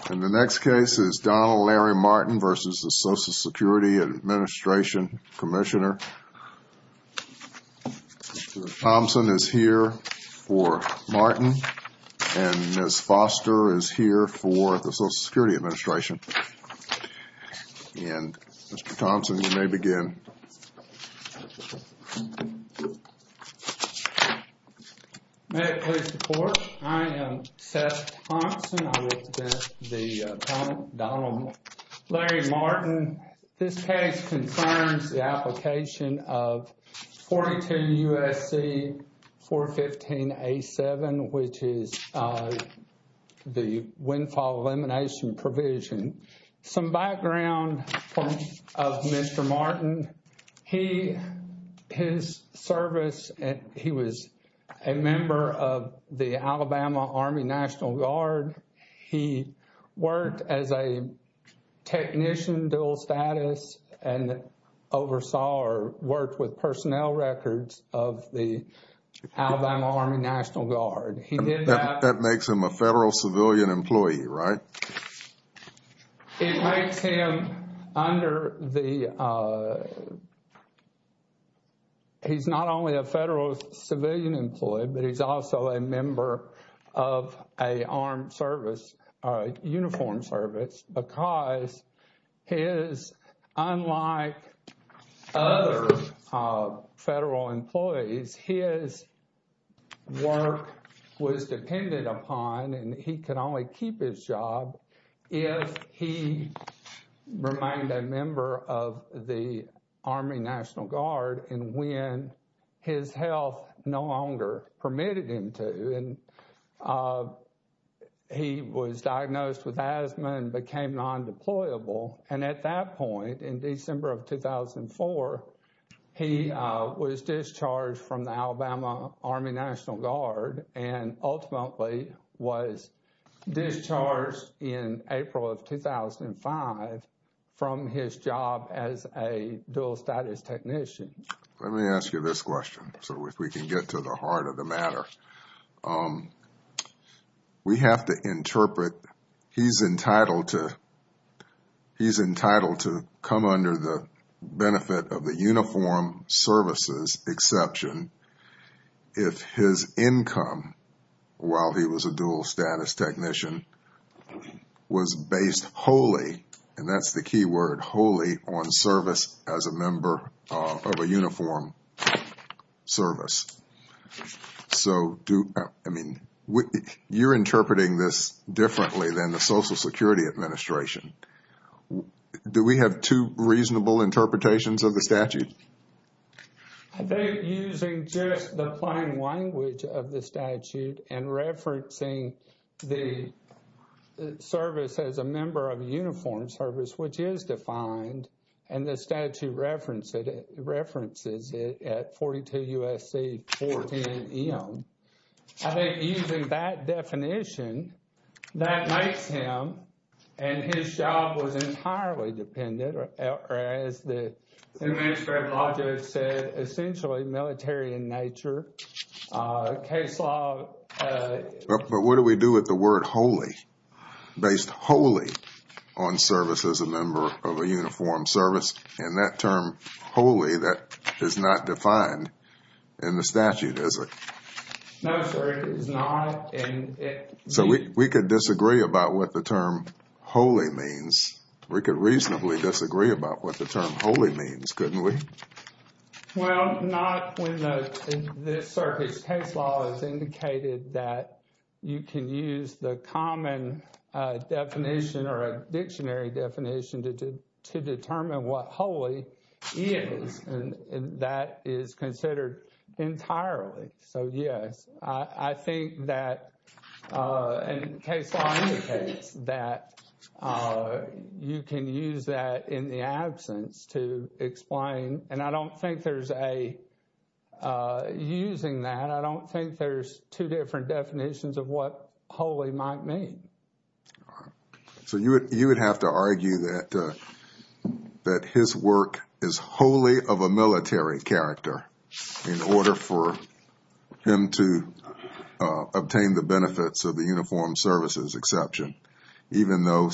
Thompson is here for Martin, and Ms. Foster is here for the Social Security Administration. And Mr. Thompson, you may begin. May it please the court, I am Seth Thompson. I represent the appellant, Donald Larry Martin. This case confirms the application of 42 USC 415 A7, which is the windfall elimination provision. And some background of Mr. Martin. He, his service, he was a member of the Alabama Army National Guard. He worked as a technician, dual status, and oversaw or worked with personnel records of the Alabama Army National Guard. He did that. That makes him a federal civilian employee, right? It makes him under the, he's not only a federal civilian employee, but he's also a member of a armed service, a uniformed service, because his, unlike other federal employees, his work was dependent upon, and he could only keep his job. If he remained a member of the Army National Guard, and when his health no longer permitted him to, and he was diagnosed with asthma and became non-deployable. And at that point, in December of 2004, he was discharged from the Alabama Army National Guard and ultimately was discharged in April of 2005 from his job as a dual status technician. Let me ask you this question. So if we can get to the heart of the matter, we have to interpret, he's entitled to, he's entitled to come under the benefit of the uniform services exception. If his income, while he was a dual status technician, was based wholly, and that's the key word, wholly on service as a member of a uniform service. So do, I mean, you're interpreting this differently than the Social Security Administration. Do we have two reasonable interpretations of the statute? I think using just the plain language of the statute and referencing the service as a member of a uniformed service, which is defined, and the statute references it at 42 U.S.C. 410 E.M. I think using that definition, that makes him, and his job was entirely dependent, or as the New Manuscript Logic said, essentially military in nature. Case law. But what do we do with the word wholly, based wholly on service as a member of a uniformed service? And that term wholly, that is not defined in the statute, is it? No, sir, it is not. So we could disagree about what the term wholly means. We could reasonably disagree about what the term wholly means, couldn't we? Well, not when this circuit's case law has indicated that you can use the common definition or a dictionary definition to determine what wholly is, and that is considered entirely. So yes, I think that, and case law indicates that you can use that in the absence to explain, and I don't think there's a, using that, I don't think there's two different definitions of what wholly might mean. So you would have to argue that his work is wholly of a military character in order for him to obtain the benefits of the uniformed services exception, even though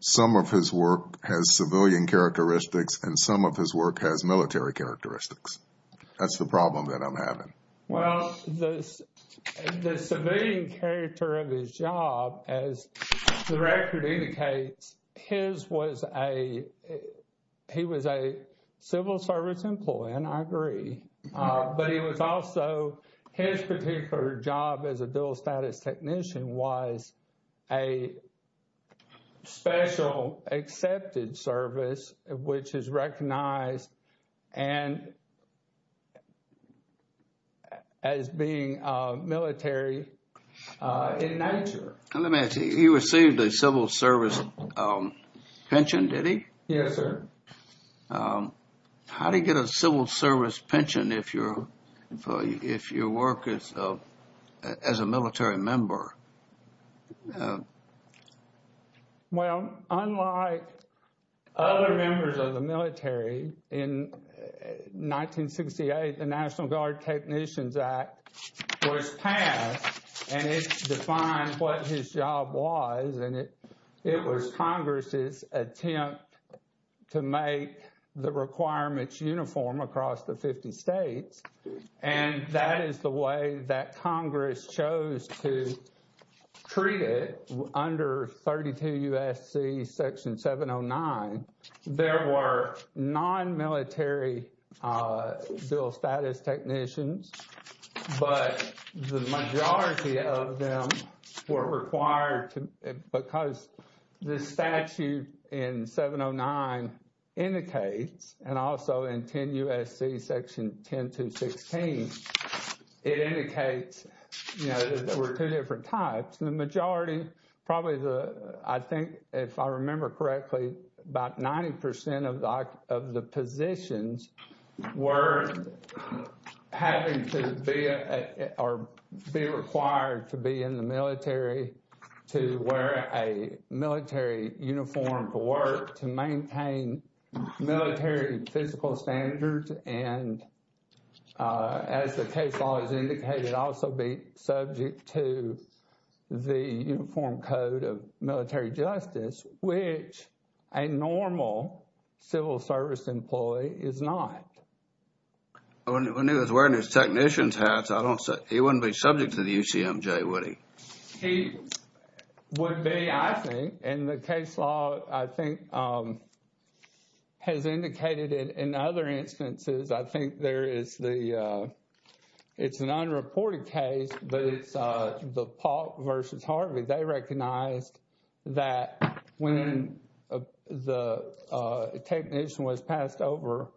some of his work has civilian characteristics and some of his work has military characteristics. That's the problem that I'm having. Well, the civilian character of his job, as the record indicates, his was a, he was a civil service employee, and I agree. But he was also, his particular job as a dual status technician was a special accepted service, which is recognized and as being military in nature. Let me ask you, he received a civil service pension, did he? Yes, sir. How do you get a civil service pension if you're, if your work is as a military member? Well, unlike other members of the military, in 1968, the National Guard Technicians Act was passed, and it defined what his job was, and it was Congress's attempt to make the requirements uniform across the 50 states. And that is the way that Congress chose to treat it under 32 U.S.C. Section 709. There were non-military dual status technicians, but the majority of them were required to, because the statute in 709 indicates, and also in 10 U.S.C. Section 10216, it indicates, you know, that there were two different types. The majority, probably the, I think, if I remember correctly, about 90% of the positions were having to be, or be required to be in the military, to wear a military uniform for work, to maintain military physical standards. And as the case law has indicated, also be subject to the Uniform Code of Military Justice, which a normal civil service employee is not. When he was wearing his technician's hat, I don't, he wouldn't be subject to the UCMJ, would he? He would be, I think. And the case law, I think, has indicated in other instances, I think there is the, it's an unreported case, but it's the Pop versus Harvey. They recognized that when the technician was passed over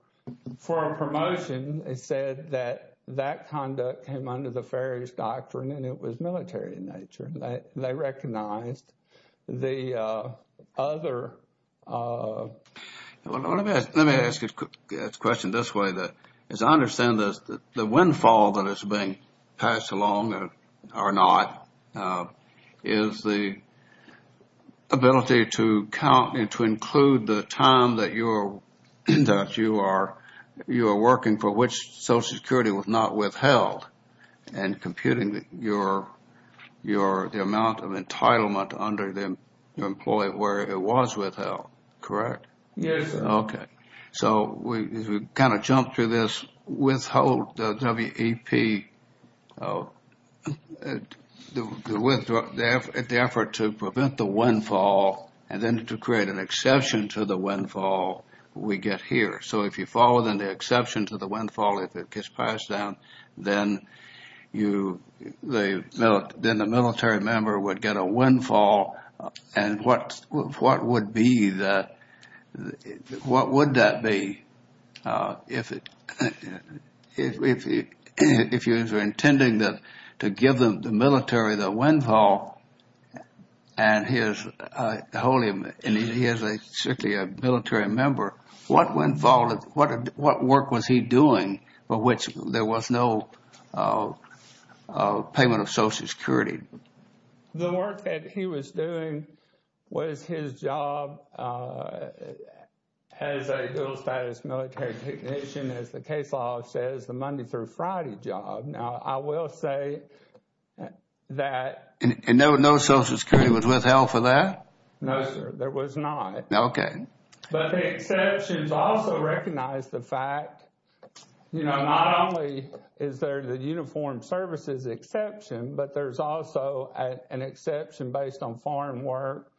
for a promotion, it said that that conduct came under the Ferris Doctrine and it was military in nature. They recognized the other. Let me ask a question this way. As I understand this, the windfall that is being passed along, or not, is the ability to count and to include the time that you are working for which Social Security was not withheld, and computing your amount of entitlement under the employee where it was withheld, correct? Yes. Okay. So we kind of jump through this, withhold the WEP, the effort to prevent the windfall and then to create an exception to the windfall we get here. So if you follow the exception to the windfall, if it gets passed down, then the military member would get a windfall. And what would be the, what would that be if you were intending to give the military the windfall, and he is a, certainly a military member, what windfall, what work was he doing for which there was no payment of Social Security? The work that he was doing was his job as a dual status military technician, as the case law says, the Monday through Friday job. Now I will say that... And no Social Security was withheld for that? No sir, there was not. Okay. But the exceptions also recognize the fact, you know, not only is there the uniform services exception, but there's also an exception based on farm work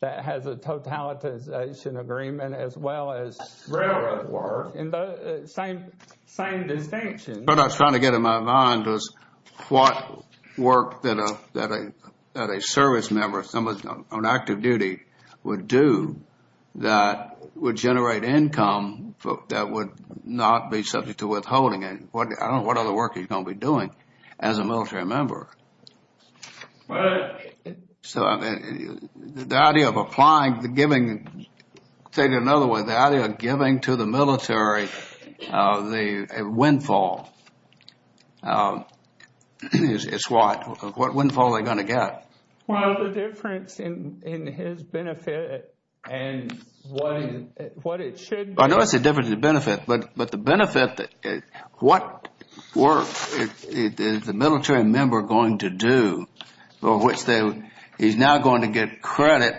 that has a totalitization agreement as well as railroad work. And the same, same distinction. What I was trying to get in my mind was what work that a service member, someone on active duty, would do that would generate income that would not be subject to withholding. I don't know what other work he's going to be doing as a military member. But... So the idea of applying the giving, say it another way, the idea of giving to the military the windfall, is what? What windfall are they going to get? Well, the difference in his benefit and what it should be... He's now going to get credit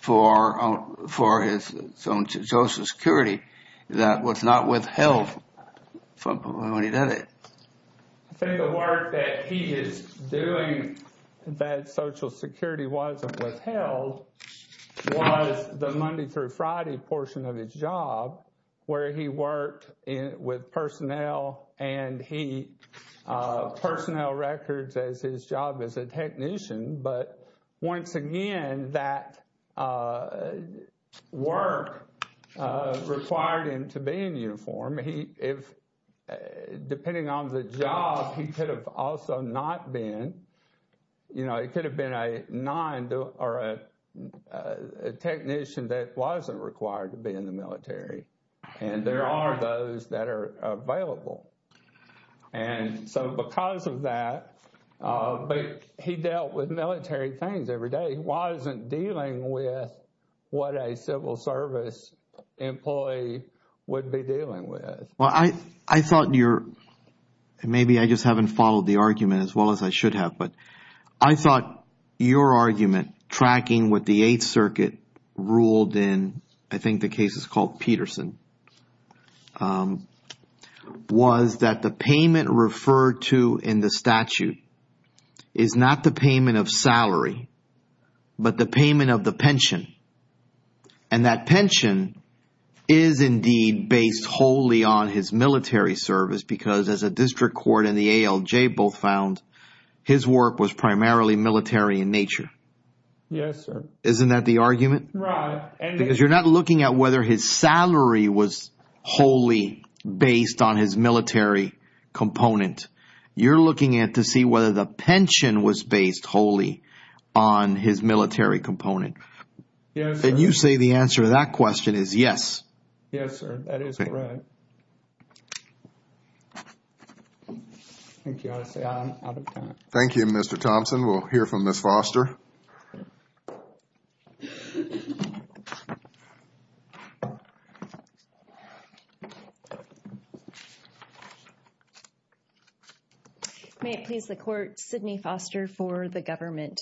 for his own Social Security that was not withheld when he did it. I think the work that he is doing that Social Security wasn't withheld was the Monday through Friday portion of his job where he worked with personnel and he personnel records as his job as a technician. But once again, that work required him to be in uniform. If, depending on the job, he could have also not been, you know, he could have been a non or a technician that wasn't required to be in the military. And there are those that are available. And so because of that, he dealt with military things every day. He wasn't dealing with what a civil service employee would be dealing with. Well, I thought your... Maybe I just haven't followed the argument as well as I should have. But I thought your argument tracking with the Eighth Circuit ruled in, I think the case is called Peterson, was that the payment referred to in the statute is not the payment of salary, but the payment of the pension. And that pension is indeed based wholly on his military service because as a district court and the ALJ both found, his work was primarily military in nature. Yes, sir. Isn't that the argument? Right. Because you're not looking at whether his salary was wholly based on his military component. You're looking at to see whether the pension was based wholly on his military component. Yes, sir. And you say the answer to that question is yes. Yes, sir. That is correct. Thank you, Mr. Thompson. We'll hear from Ms. Foster. May it please the court, Sidney Foster for the government.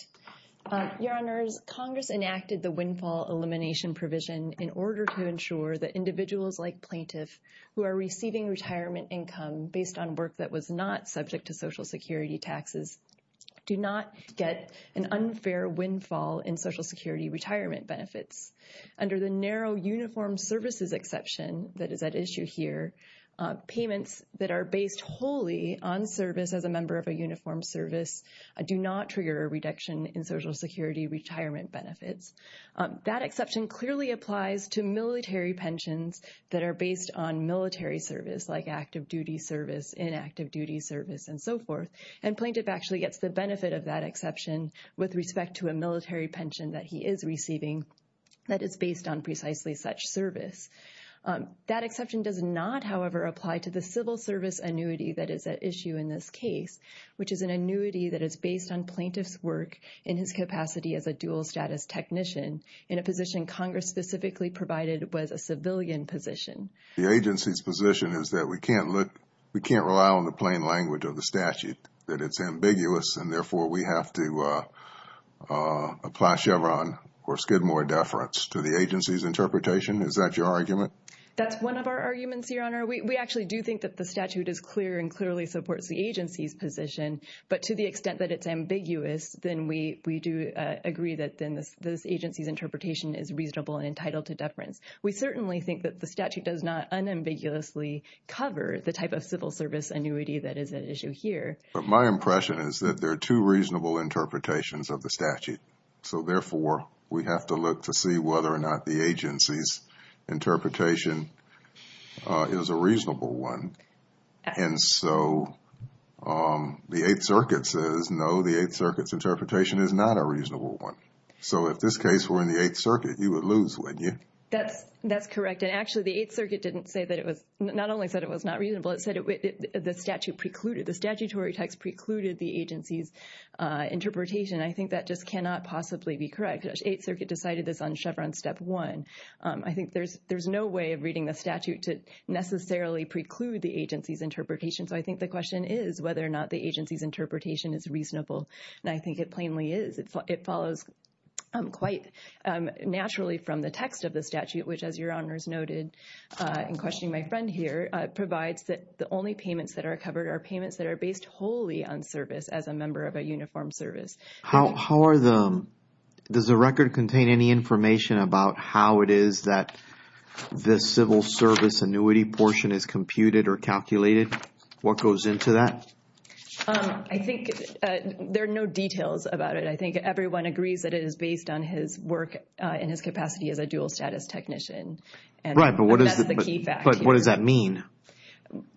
Your Honors, Congress enacted the windfall elimination provision in order to ensure that individuals like plaintiff who are receiving retirement income based on work that was not subject to Social Security taxes do not get an unfair windfall in Social Security retirement benefits. Under the narrow uniform services exception that is at issue here, payments that are based wholly on service as a member of a uniform service do not trigger a reduction in Social Security retirement benefits. That exception clearly applies to military pensions that are based on military service like active duty service, inactive duty service, and so forth. And plaintiff actually gets the benefit of that exception with respect to a military pension that he is receiving that is based on precisely such service. That exception does not, however, apply to the civil service annuity that is at issue in this case, which is an annuity that is based on plaintiff's work in his capacity as a dual status technician in a position Congress specifically provided was a civilian position. The agency's position is that we can't rely on the plain language of the statute, that it's ambiguous, and therefore we have to apply Chevron or Skidmore deference to the agency's interpretation. Is that your argument? That's one of our arguments, Your Honor. We actually do think that the statute is clear and clearly supports the agency's position. But to the extent that it's ambiguous, then we do agree that this agency's interpretation is reasonable and entitled to deference. We certainly think that the statute does not unambiguously cover the type of civil service annuity that is at issue here. But my impression is that there are two reasonable interpretations of the statute. So therefore, we have to look to see whether or not the agency's interpretation is a reasonable one. And so the Eighth Circuit says, no, the Eighth Circuit's interpretation is not a reasonable one. So if this case were in the Eighth Circuit, you would lose, wouldn't you? That's correct. And actually, the Eighth Circuit didn't say that it was, not only said it was not reasonable, it said the statute precluded, the statutory text precluded the agency's interpretation. I think that just cannot possibly be correct. The Eighth Circuit decided this on Chevron step one. I think there's no way of reading the statute to necessarily preclude the agency's interpretation. So I think the question is whether or not the agency's interpretation is reasonable. And I think it plainly is. It follows quite naturally from the text of the statute, which, as your honors noted in questioning my friend here, provides that the only payments that are covered are payments that are based wholly on service as a member of a uniformed service. How are the, does the record contain any information about how it is that this civil service annuity portion is computed or calculated? What goes into that? I think there are no details about it. I think everyone agrees that it is based on his work and his capacity as a dual status technician. Right, but what does that mean?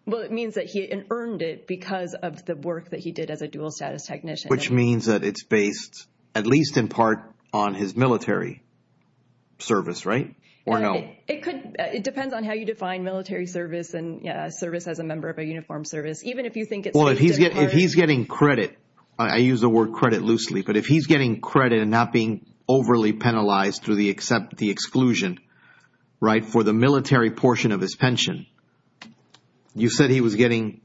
Well, it means that he earned it because of the work that he did as a dual status technician. Which means that it's based, at least in part, on his military service, right? Or no? It depends on how you define military service and service as a member of a uniformed service. Well, if he's getting credit, I use the word credit loosely, but if he's getting credit and not being overly penalized through the exclusion, right, for the military portion of his pension, you said he was getting,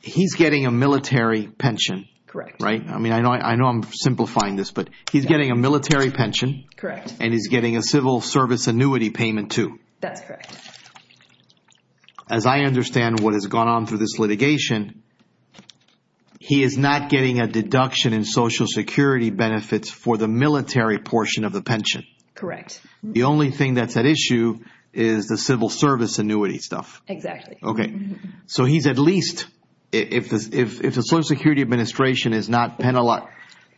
he's getting a military pension. Correct. Right? I mean, I know I'm simplifying this, but he's getting a military pension. Correct. And he's getting a civil service annuity payment too. That's correct. As I understand what has gone on through this litigation, he is not getting a deduction in Social Security benefits for the military portion of the pension. Correct. The only thing that's at issue is the civil service annuity stuff. Exactly. Okay. So he's at least, if the Social Security Administration is not,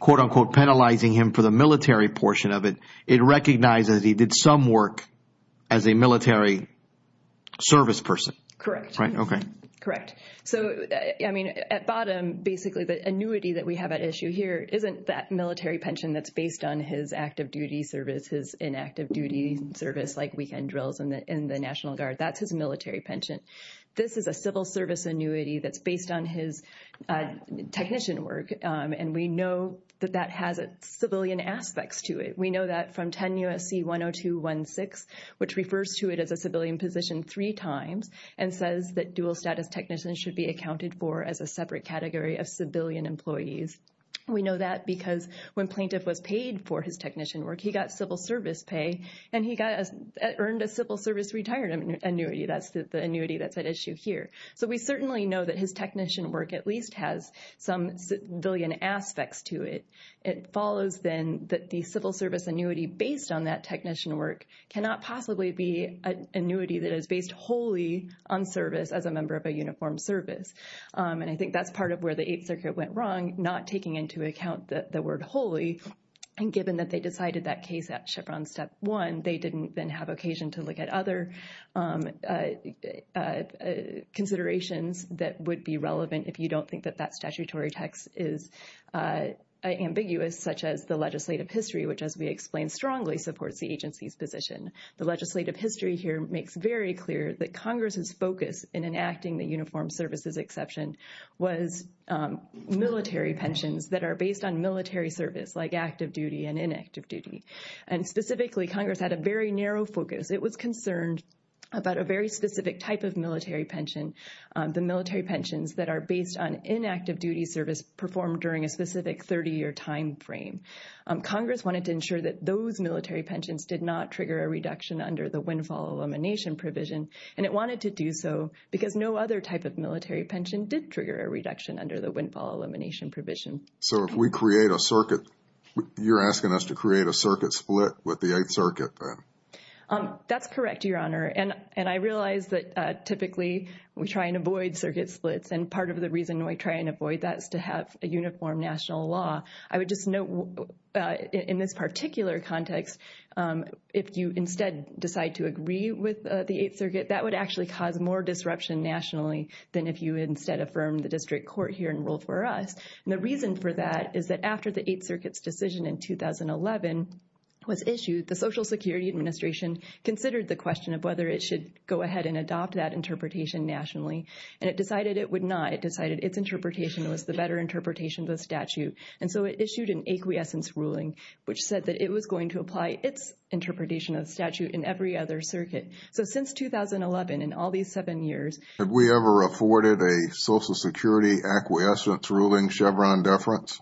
quote unquote, penalizing him for the military portion of it, it recognizes he did some work as a military service person. Correct. Right? Okay. Correct. So, I mean, at bottom, basically the annuity that we have at issue here isn't that military pension that's based on his active duty service, his inactive duty service like weekend drills in the National Guard. That's his military pension. This is a civil service annuity that's based on his technician work, and we know that that has civilian aspects to it. We know that from 10 U.S.C. 102.1.6, which refers to it as a civilian position three times, and says that dual status technicians should be accounted for as a separate category of civilian employees. We know that because when plaintiff was paid for his technician work, he got civil service pay, and he earned a civil service retirement annuity. That's the annuity that's at issue here. So we certainly know that his technician work at least has some civilian aspects to it. It follows, then, that the civil service annuity based on that technician work cannot possibly be an annuity that is based wholly on service as a member of a uniform service. And I think that's part of where the Eighth Circuit went wrong, not taking into account the word wholly, and given that they decided that case at Chipron Step 1, they didn't then have occasion to look at other considerations that would be relevant if you don't think that that statutory text is ambiguous, such as the legislative history, which, as we explained, strongly supports the agency's position. The legislative history here makes very clear that Congress's focus in enacting the uniform services exception was military pensions that are based on military service, like active duty and inactive duty. And specifically, Congress had a very narrow focus. It was concerned about a very specific type of military pension, the military pensions that are based on inactive duty service performed during a specific 30-year timeframe. Congress wanted to ensure that those military pensions did not trigger a reduction under the windfall elimination provision, and it wanted to do so because no other type of military pension did trigger a reduction under the windfall elimination provision. So if we create a circuit, you're asking us to create a circuit split with the Eighth Circuit, then? That's correct, Your Honor, and I realize that typically we try and avoid circuit splits, and part of the reason we try and avoid that is to have a uniform national law. I would just note in this particular context, if you instead decide to agree with the Eighth Circuit, that would actually cause more disruption nationally than if you instead affirmed the district court here and ruled for us. And the reason for that is that after the Eighth Circuit's decision in 2011 was issued, the Social Security Administration considered the question of whether it should go ahead and adopt that interpretation nationally, and it decided it would not. It decided its interpretation was the better interpretation of the statute, and so it issued an acquiescence ruling which said that it was going to apply its interpretation of the statute in every other circuit. So since 2011, in all these seven years… Have we ever afforded a Social Security acquiescence ruling Chevron deference?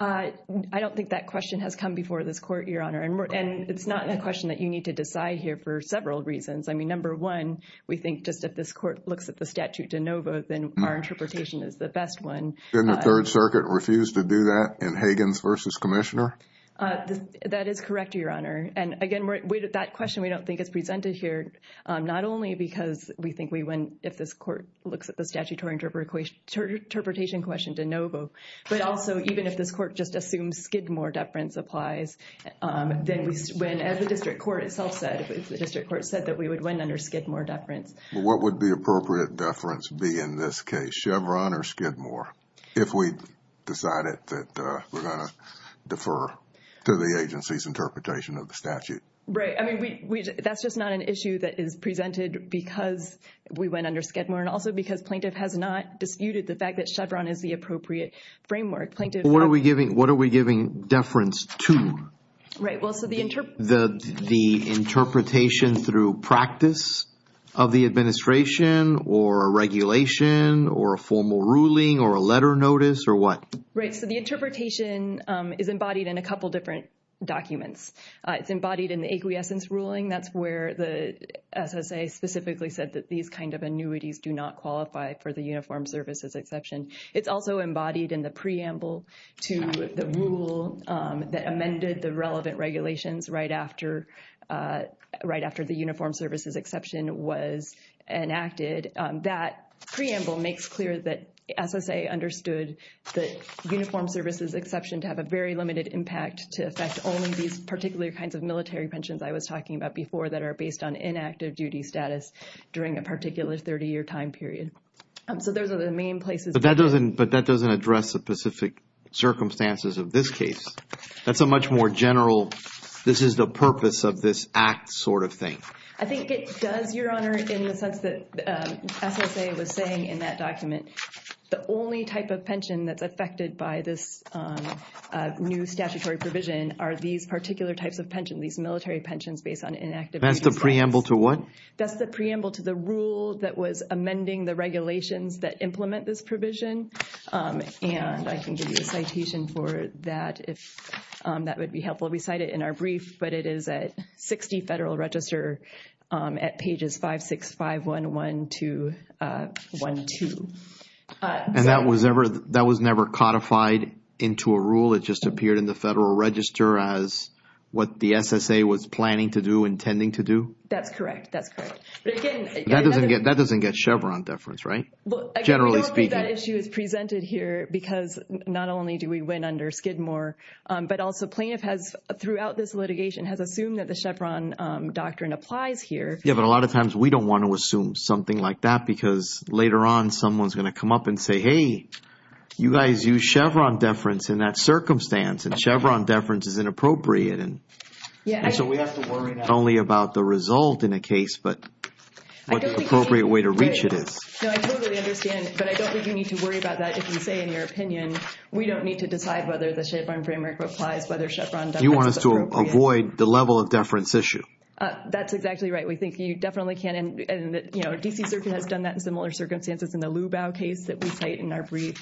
I don't think that question has come before this court, Your Honor, and it's not a question that you need to decide here for several reasons. I mean, number one, we think just that this court looks at the statute de novo, then our interpretation is the best one. Didn't the Third Circuit refuse to do that in Higgins v. Commissioner? That is correct, Your Honor, and again, that question we don't think is presented here, not only because we think we win if this court looks at the statutory interpretation question de novo, but also even if this court just assumes Skidmore deference applies, then as the district court itself said, if the district court said that we would win under Skidmore deference. What would the appropriate deference be in this case, Chevron or Skidmore, if we decided that we're going to defer to the agency's interpretation of the statute? Right. I mean, that's just not an issue that is presented because we went under Skidmore and also because plaintiff has not disputed the fact that Chevron is the appropriate framework. What are we giving deference to? The interpretation through practice of the administration or regulation or a formal ruling or a letter notice or what? Right. So the interpretation is embodied in a couple of different documents. It's embodied in the acquiescence ruling. That's where the SSA specifically said that these kind of annuities do not qualify for the uniformed services exception. It's also embodied in the preamble to the rule that amended the relevant regulations right after the uniformed services exception was enacted. That preamble makes clear that SSA understood the uniformed services exception to have a very limited impact to affect only these particular kinds of military pensions. I was talking about before that are based on inactive duty status during a particular 30 year time period. So those are the main places. But that doesn't address the specific circumstances of this case. That's a much more general, this is the purpose of this act sort of thing. I think it does, Your Honor, in the sense that SSA was saying in that document. The only type of pension that's affected by this new statutory provision are these particular types of pensions, these military pensions based on inactive duty status. That's the preamble to what? That's the preamble to the rule that was amending the regulations that implement this provision. And I can give you a citation for that if that would be helpful. We cite it in our brief, but it is at 60 Federal Register at pages 56511 to 12. And that was never codified into a rule? It just appeared in the Federal Register as what the SSA was planning to do, intending to do? That's correct. That's correct. That doesn't get Chevron deference, right? Generally speaking. We don't think that issue is presented here because not only do we win under Skidmore, but also plaintiff has throughout this litigation has assumed that the Chevron doctrine applies here. Yeah, but a lot of times we don't want to assume something like that because later on someone's going to come up and say, hey, you guys use Chevron deference in that circumstance and Chevron deference is inappropriate. And so we have to worry not only about the result in a case, but what appropriate way to reach it is. I totally understand, but I don't think you need to worry about that. If you say in your opinion, we don't need to decide whether the Chevron framework applies, whether Chevron deference is appropriate. You want us to avoid the level of deference issue. That's exactly right. We think you definitely can. And, you know, D.C. Circuit has done that in similar circumstances in the Lubau case that we cite in our brief.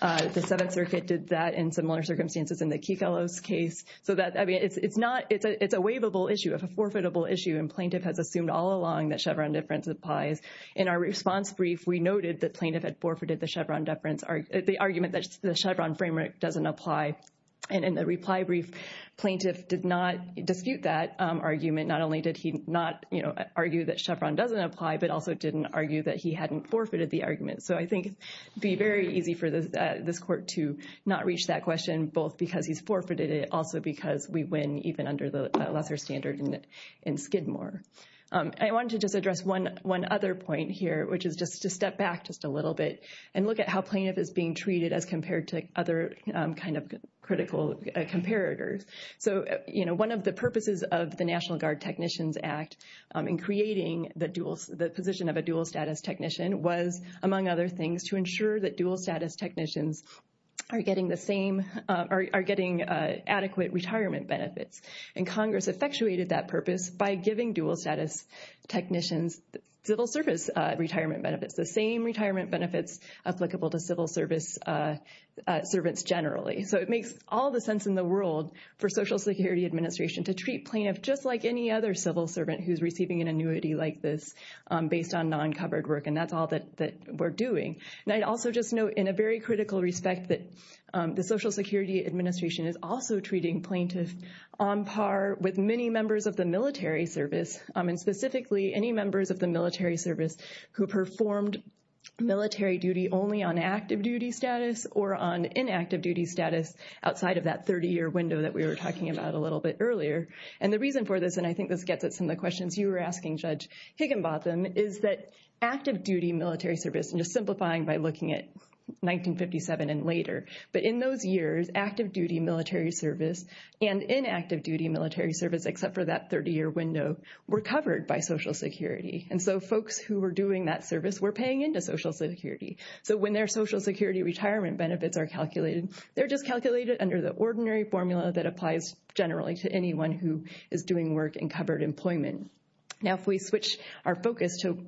The Seventh Circuit did that in similar circumstances in the Kefalo's case. So that I mean, it's not it's a it's a waivable issue of a forfeitable issue. And plaintiff has assumed all along that Chevron deference applies. In our response brief, we noted that plaintiff had forfeited the Chevron deference, the argument that the Chevron framework doesn't apply. And in the reply brief, plaintiff did not dispute that argument. Not only did he not argue that Chevron doesn't apply, but also didn't argue that he hadn't forfeited the argument. So I think it would be very easy for this court to not reach that question, both because he's forfeited it, also because we win even under the lesser standard in Skidmore. I want to just address one one other point here, which is just to step back just a little bit and look at how plaintiff is being treated as compared to other kind of critical comparators. So, you know, one of the purposes of the National Guard Technicians Act in creating the dual the position of a dual status technician was, among other things, to ensure that dual status technicians are getting the same are getting adequate retirement benefits. And Congress effectuated that purpose by giving dual status technicians civil service retirement benefits, the same retirement benefits applicable to civil service servants generally. So it makes all the sense in the world for Social Security Administration to treat plaintiff just like any other civil servant who's receiving an annuity like this based on non covered work. And that's all that we're doing. And I'd also just note in a very critical respect that the Social Security Administration is also treating plaintiff on par with many members of the military service. And specifically, any members of the military service who performed military duty only on active duty status or on inactive duty status outside of that 30 year window that we were talking about a little bit earlier. And the reason for this, and I think this gets at some of the questions you were asking, Judge Higginbotham, is that active duty military service and just simplifying by looking at 1957 and later. But in those years, active duty military service and inactive duty military service, except for that 30 year window, were covered by Social Security. And so folks who were doing that service were paying into Social Security. So when their Social Security retirement benefits are calculated, they're just calculated under the ordinary formula that applies generally to anyone who is doing work in covered employment. Now, if we switch our focus to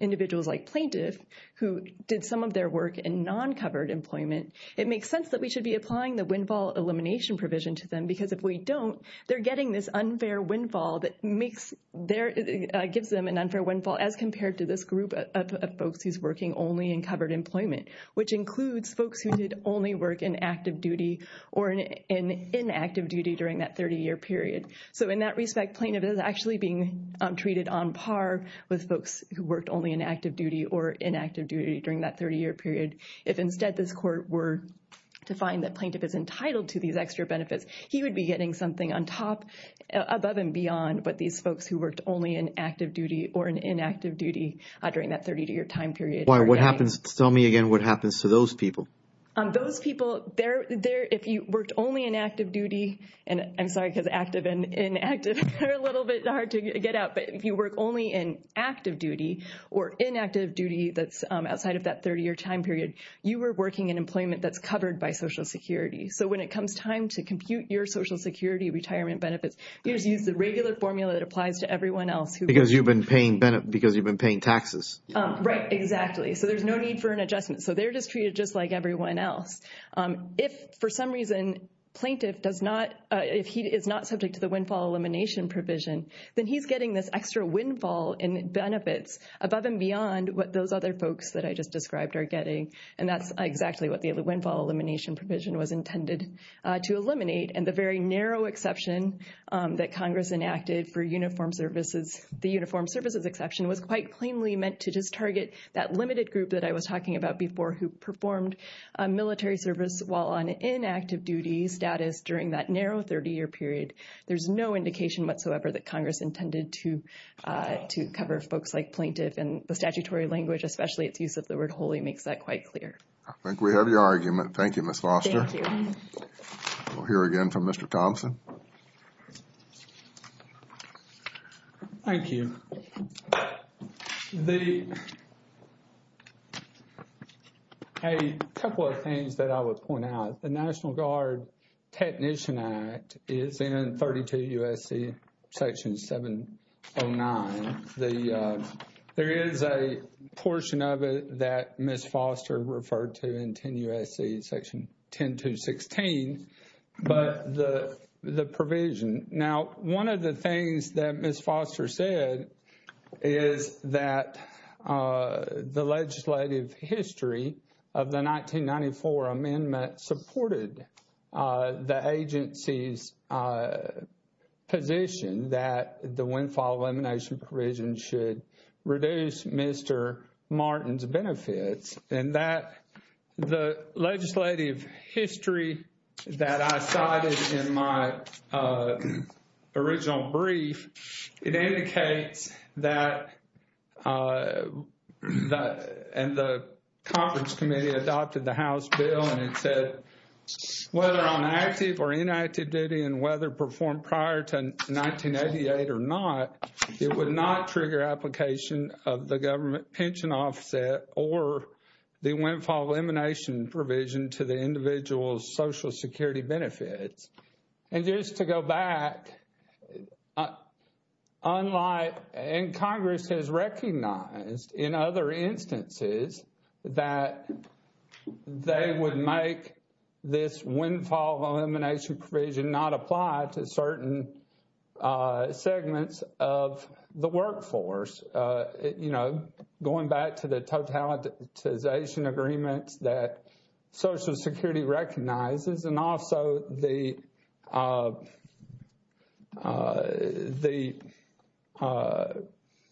individuals like plaintiff who did some of their work in non covered employment, it makes sense that we should be applying the windfall elimination provision to them because if we don't, they're getting this unfair windfall that gives them an unfair windfall as compared to this group of folks who's working only in covered employment, which includes folks who did only work in active duty or in inactive duty during that 30 year period. So in that respect, plaintiff is actually being treated on par with folks who worked only in active duty or inactive duty during that 30 year period. If instead this court were to find that plaintiff is entitled to these extra benefits, he would be getting something on top above and beyond. But these folks who worked only in active duty or inactive duty during that 30 year time period. Why? What happens? Tell me again what happens to those people. Those people, if you worked only in active duty and I'm sorry, because active and inactive are a little bit hard to get out. But if you work only in active duty or inactive duty that's outside of that 30 year time period, you were working in employment that's covered by Social Security. So when it comes time to compute your Social Security retirement benefits, you just use the regular formula that applies to everyone else. Because you've been paying because you've been paying taxes. Right. Exactly. So there's no need for an adjustment. So they're just treated just like everyone else. If for some reason plaintiff does not if he is not subject to the windfall elimination provision, then he's getting this extra windfall and benefits above and beyond what those other folks that I just described are getting. And that's exactly what the windfall elimination provision was intended to eliminate. And the very narrow exception that Congress enacted for uniformed services, the uniformed services exception, was quite plainly meant to just target that limited group that I was talking about before, who performed military service while on inactive duty status during that narrow 30 year period. There's no indication whatsoever that Congress intended to to cover folks like plaintiff and the statutory language, especially its use of the word wholly makes that quite clear. I think we have your argument. Thank you, Ms. Foster. Thank you. We'll hear again from Mr. Thompson. Thank you. A couple of things that I would point out. The National Guard Technician Act is in 32 U.S.C. section 709. There is a portion of it that Ms. Foster referred to in 10 U.S.C. section 10216, but the provision. Now, one of the things that Ms. Foster said is that the legislative history of the 1994 amendment supported the agency's position that the windfall elimination provision should reduce Mr. Martin's benefits. And that the legislative history that I cited in my original brief, it indicates that and the conference committee adopted the House bill and it said whether on active or inactive duty and whether performed prior to 1988 or not, it would not trigger application of the government pension offset or the windfall elimination provision to the individual's Social Security benefits. And just to go back, unlike and Congress has recognized in other instances that they would make this windfall elimination provision not apply to certain segments of the workforce, you know, going back to the totalitization agreements that Social Security recognizes and also the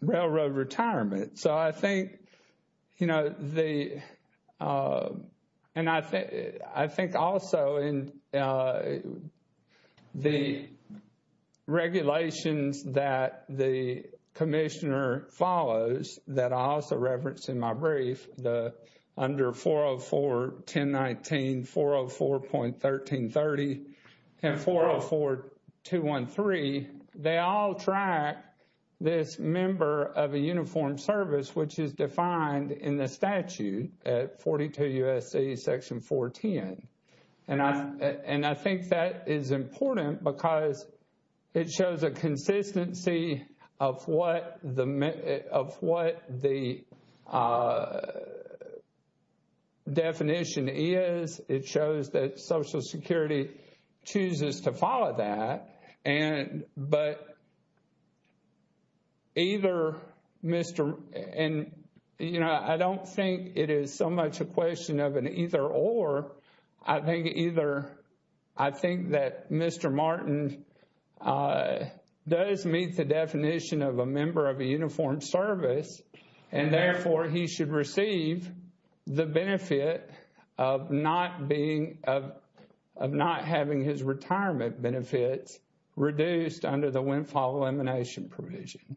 railroad retirement. So I think, you know, the and I think also in the regulations that the commissioner follows that I also referenced in my brief, the under 404-1019, 404.1330 and 404-213, they all track this member of a uniformed service, which is defined in the statute at 42 U.S.C. section 410. And I think that is important because it shows a consistency of what the definition is. It shows that Social Security chooses to follow that. And but either Mr. And, you know, I don't think it is so much a question of an either or. I think either I think that Mr. Martin does meet the definition of a member of a uniformed service and therefore he should receive the benefit of not being of not having his retirement benefits reduced under the windfall elimination provision.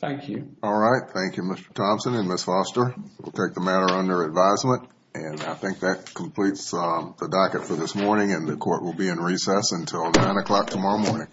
Thank you. All right. Thank you, Mr. Thompson and Ms. Foster. We'll take the matter under advisement. And I think that completes the docket for this morning and the court will be in recess until 9 o'clock tomorrow morning. All right.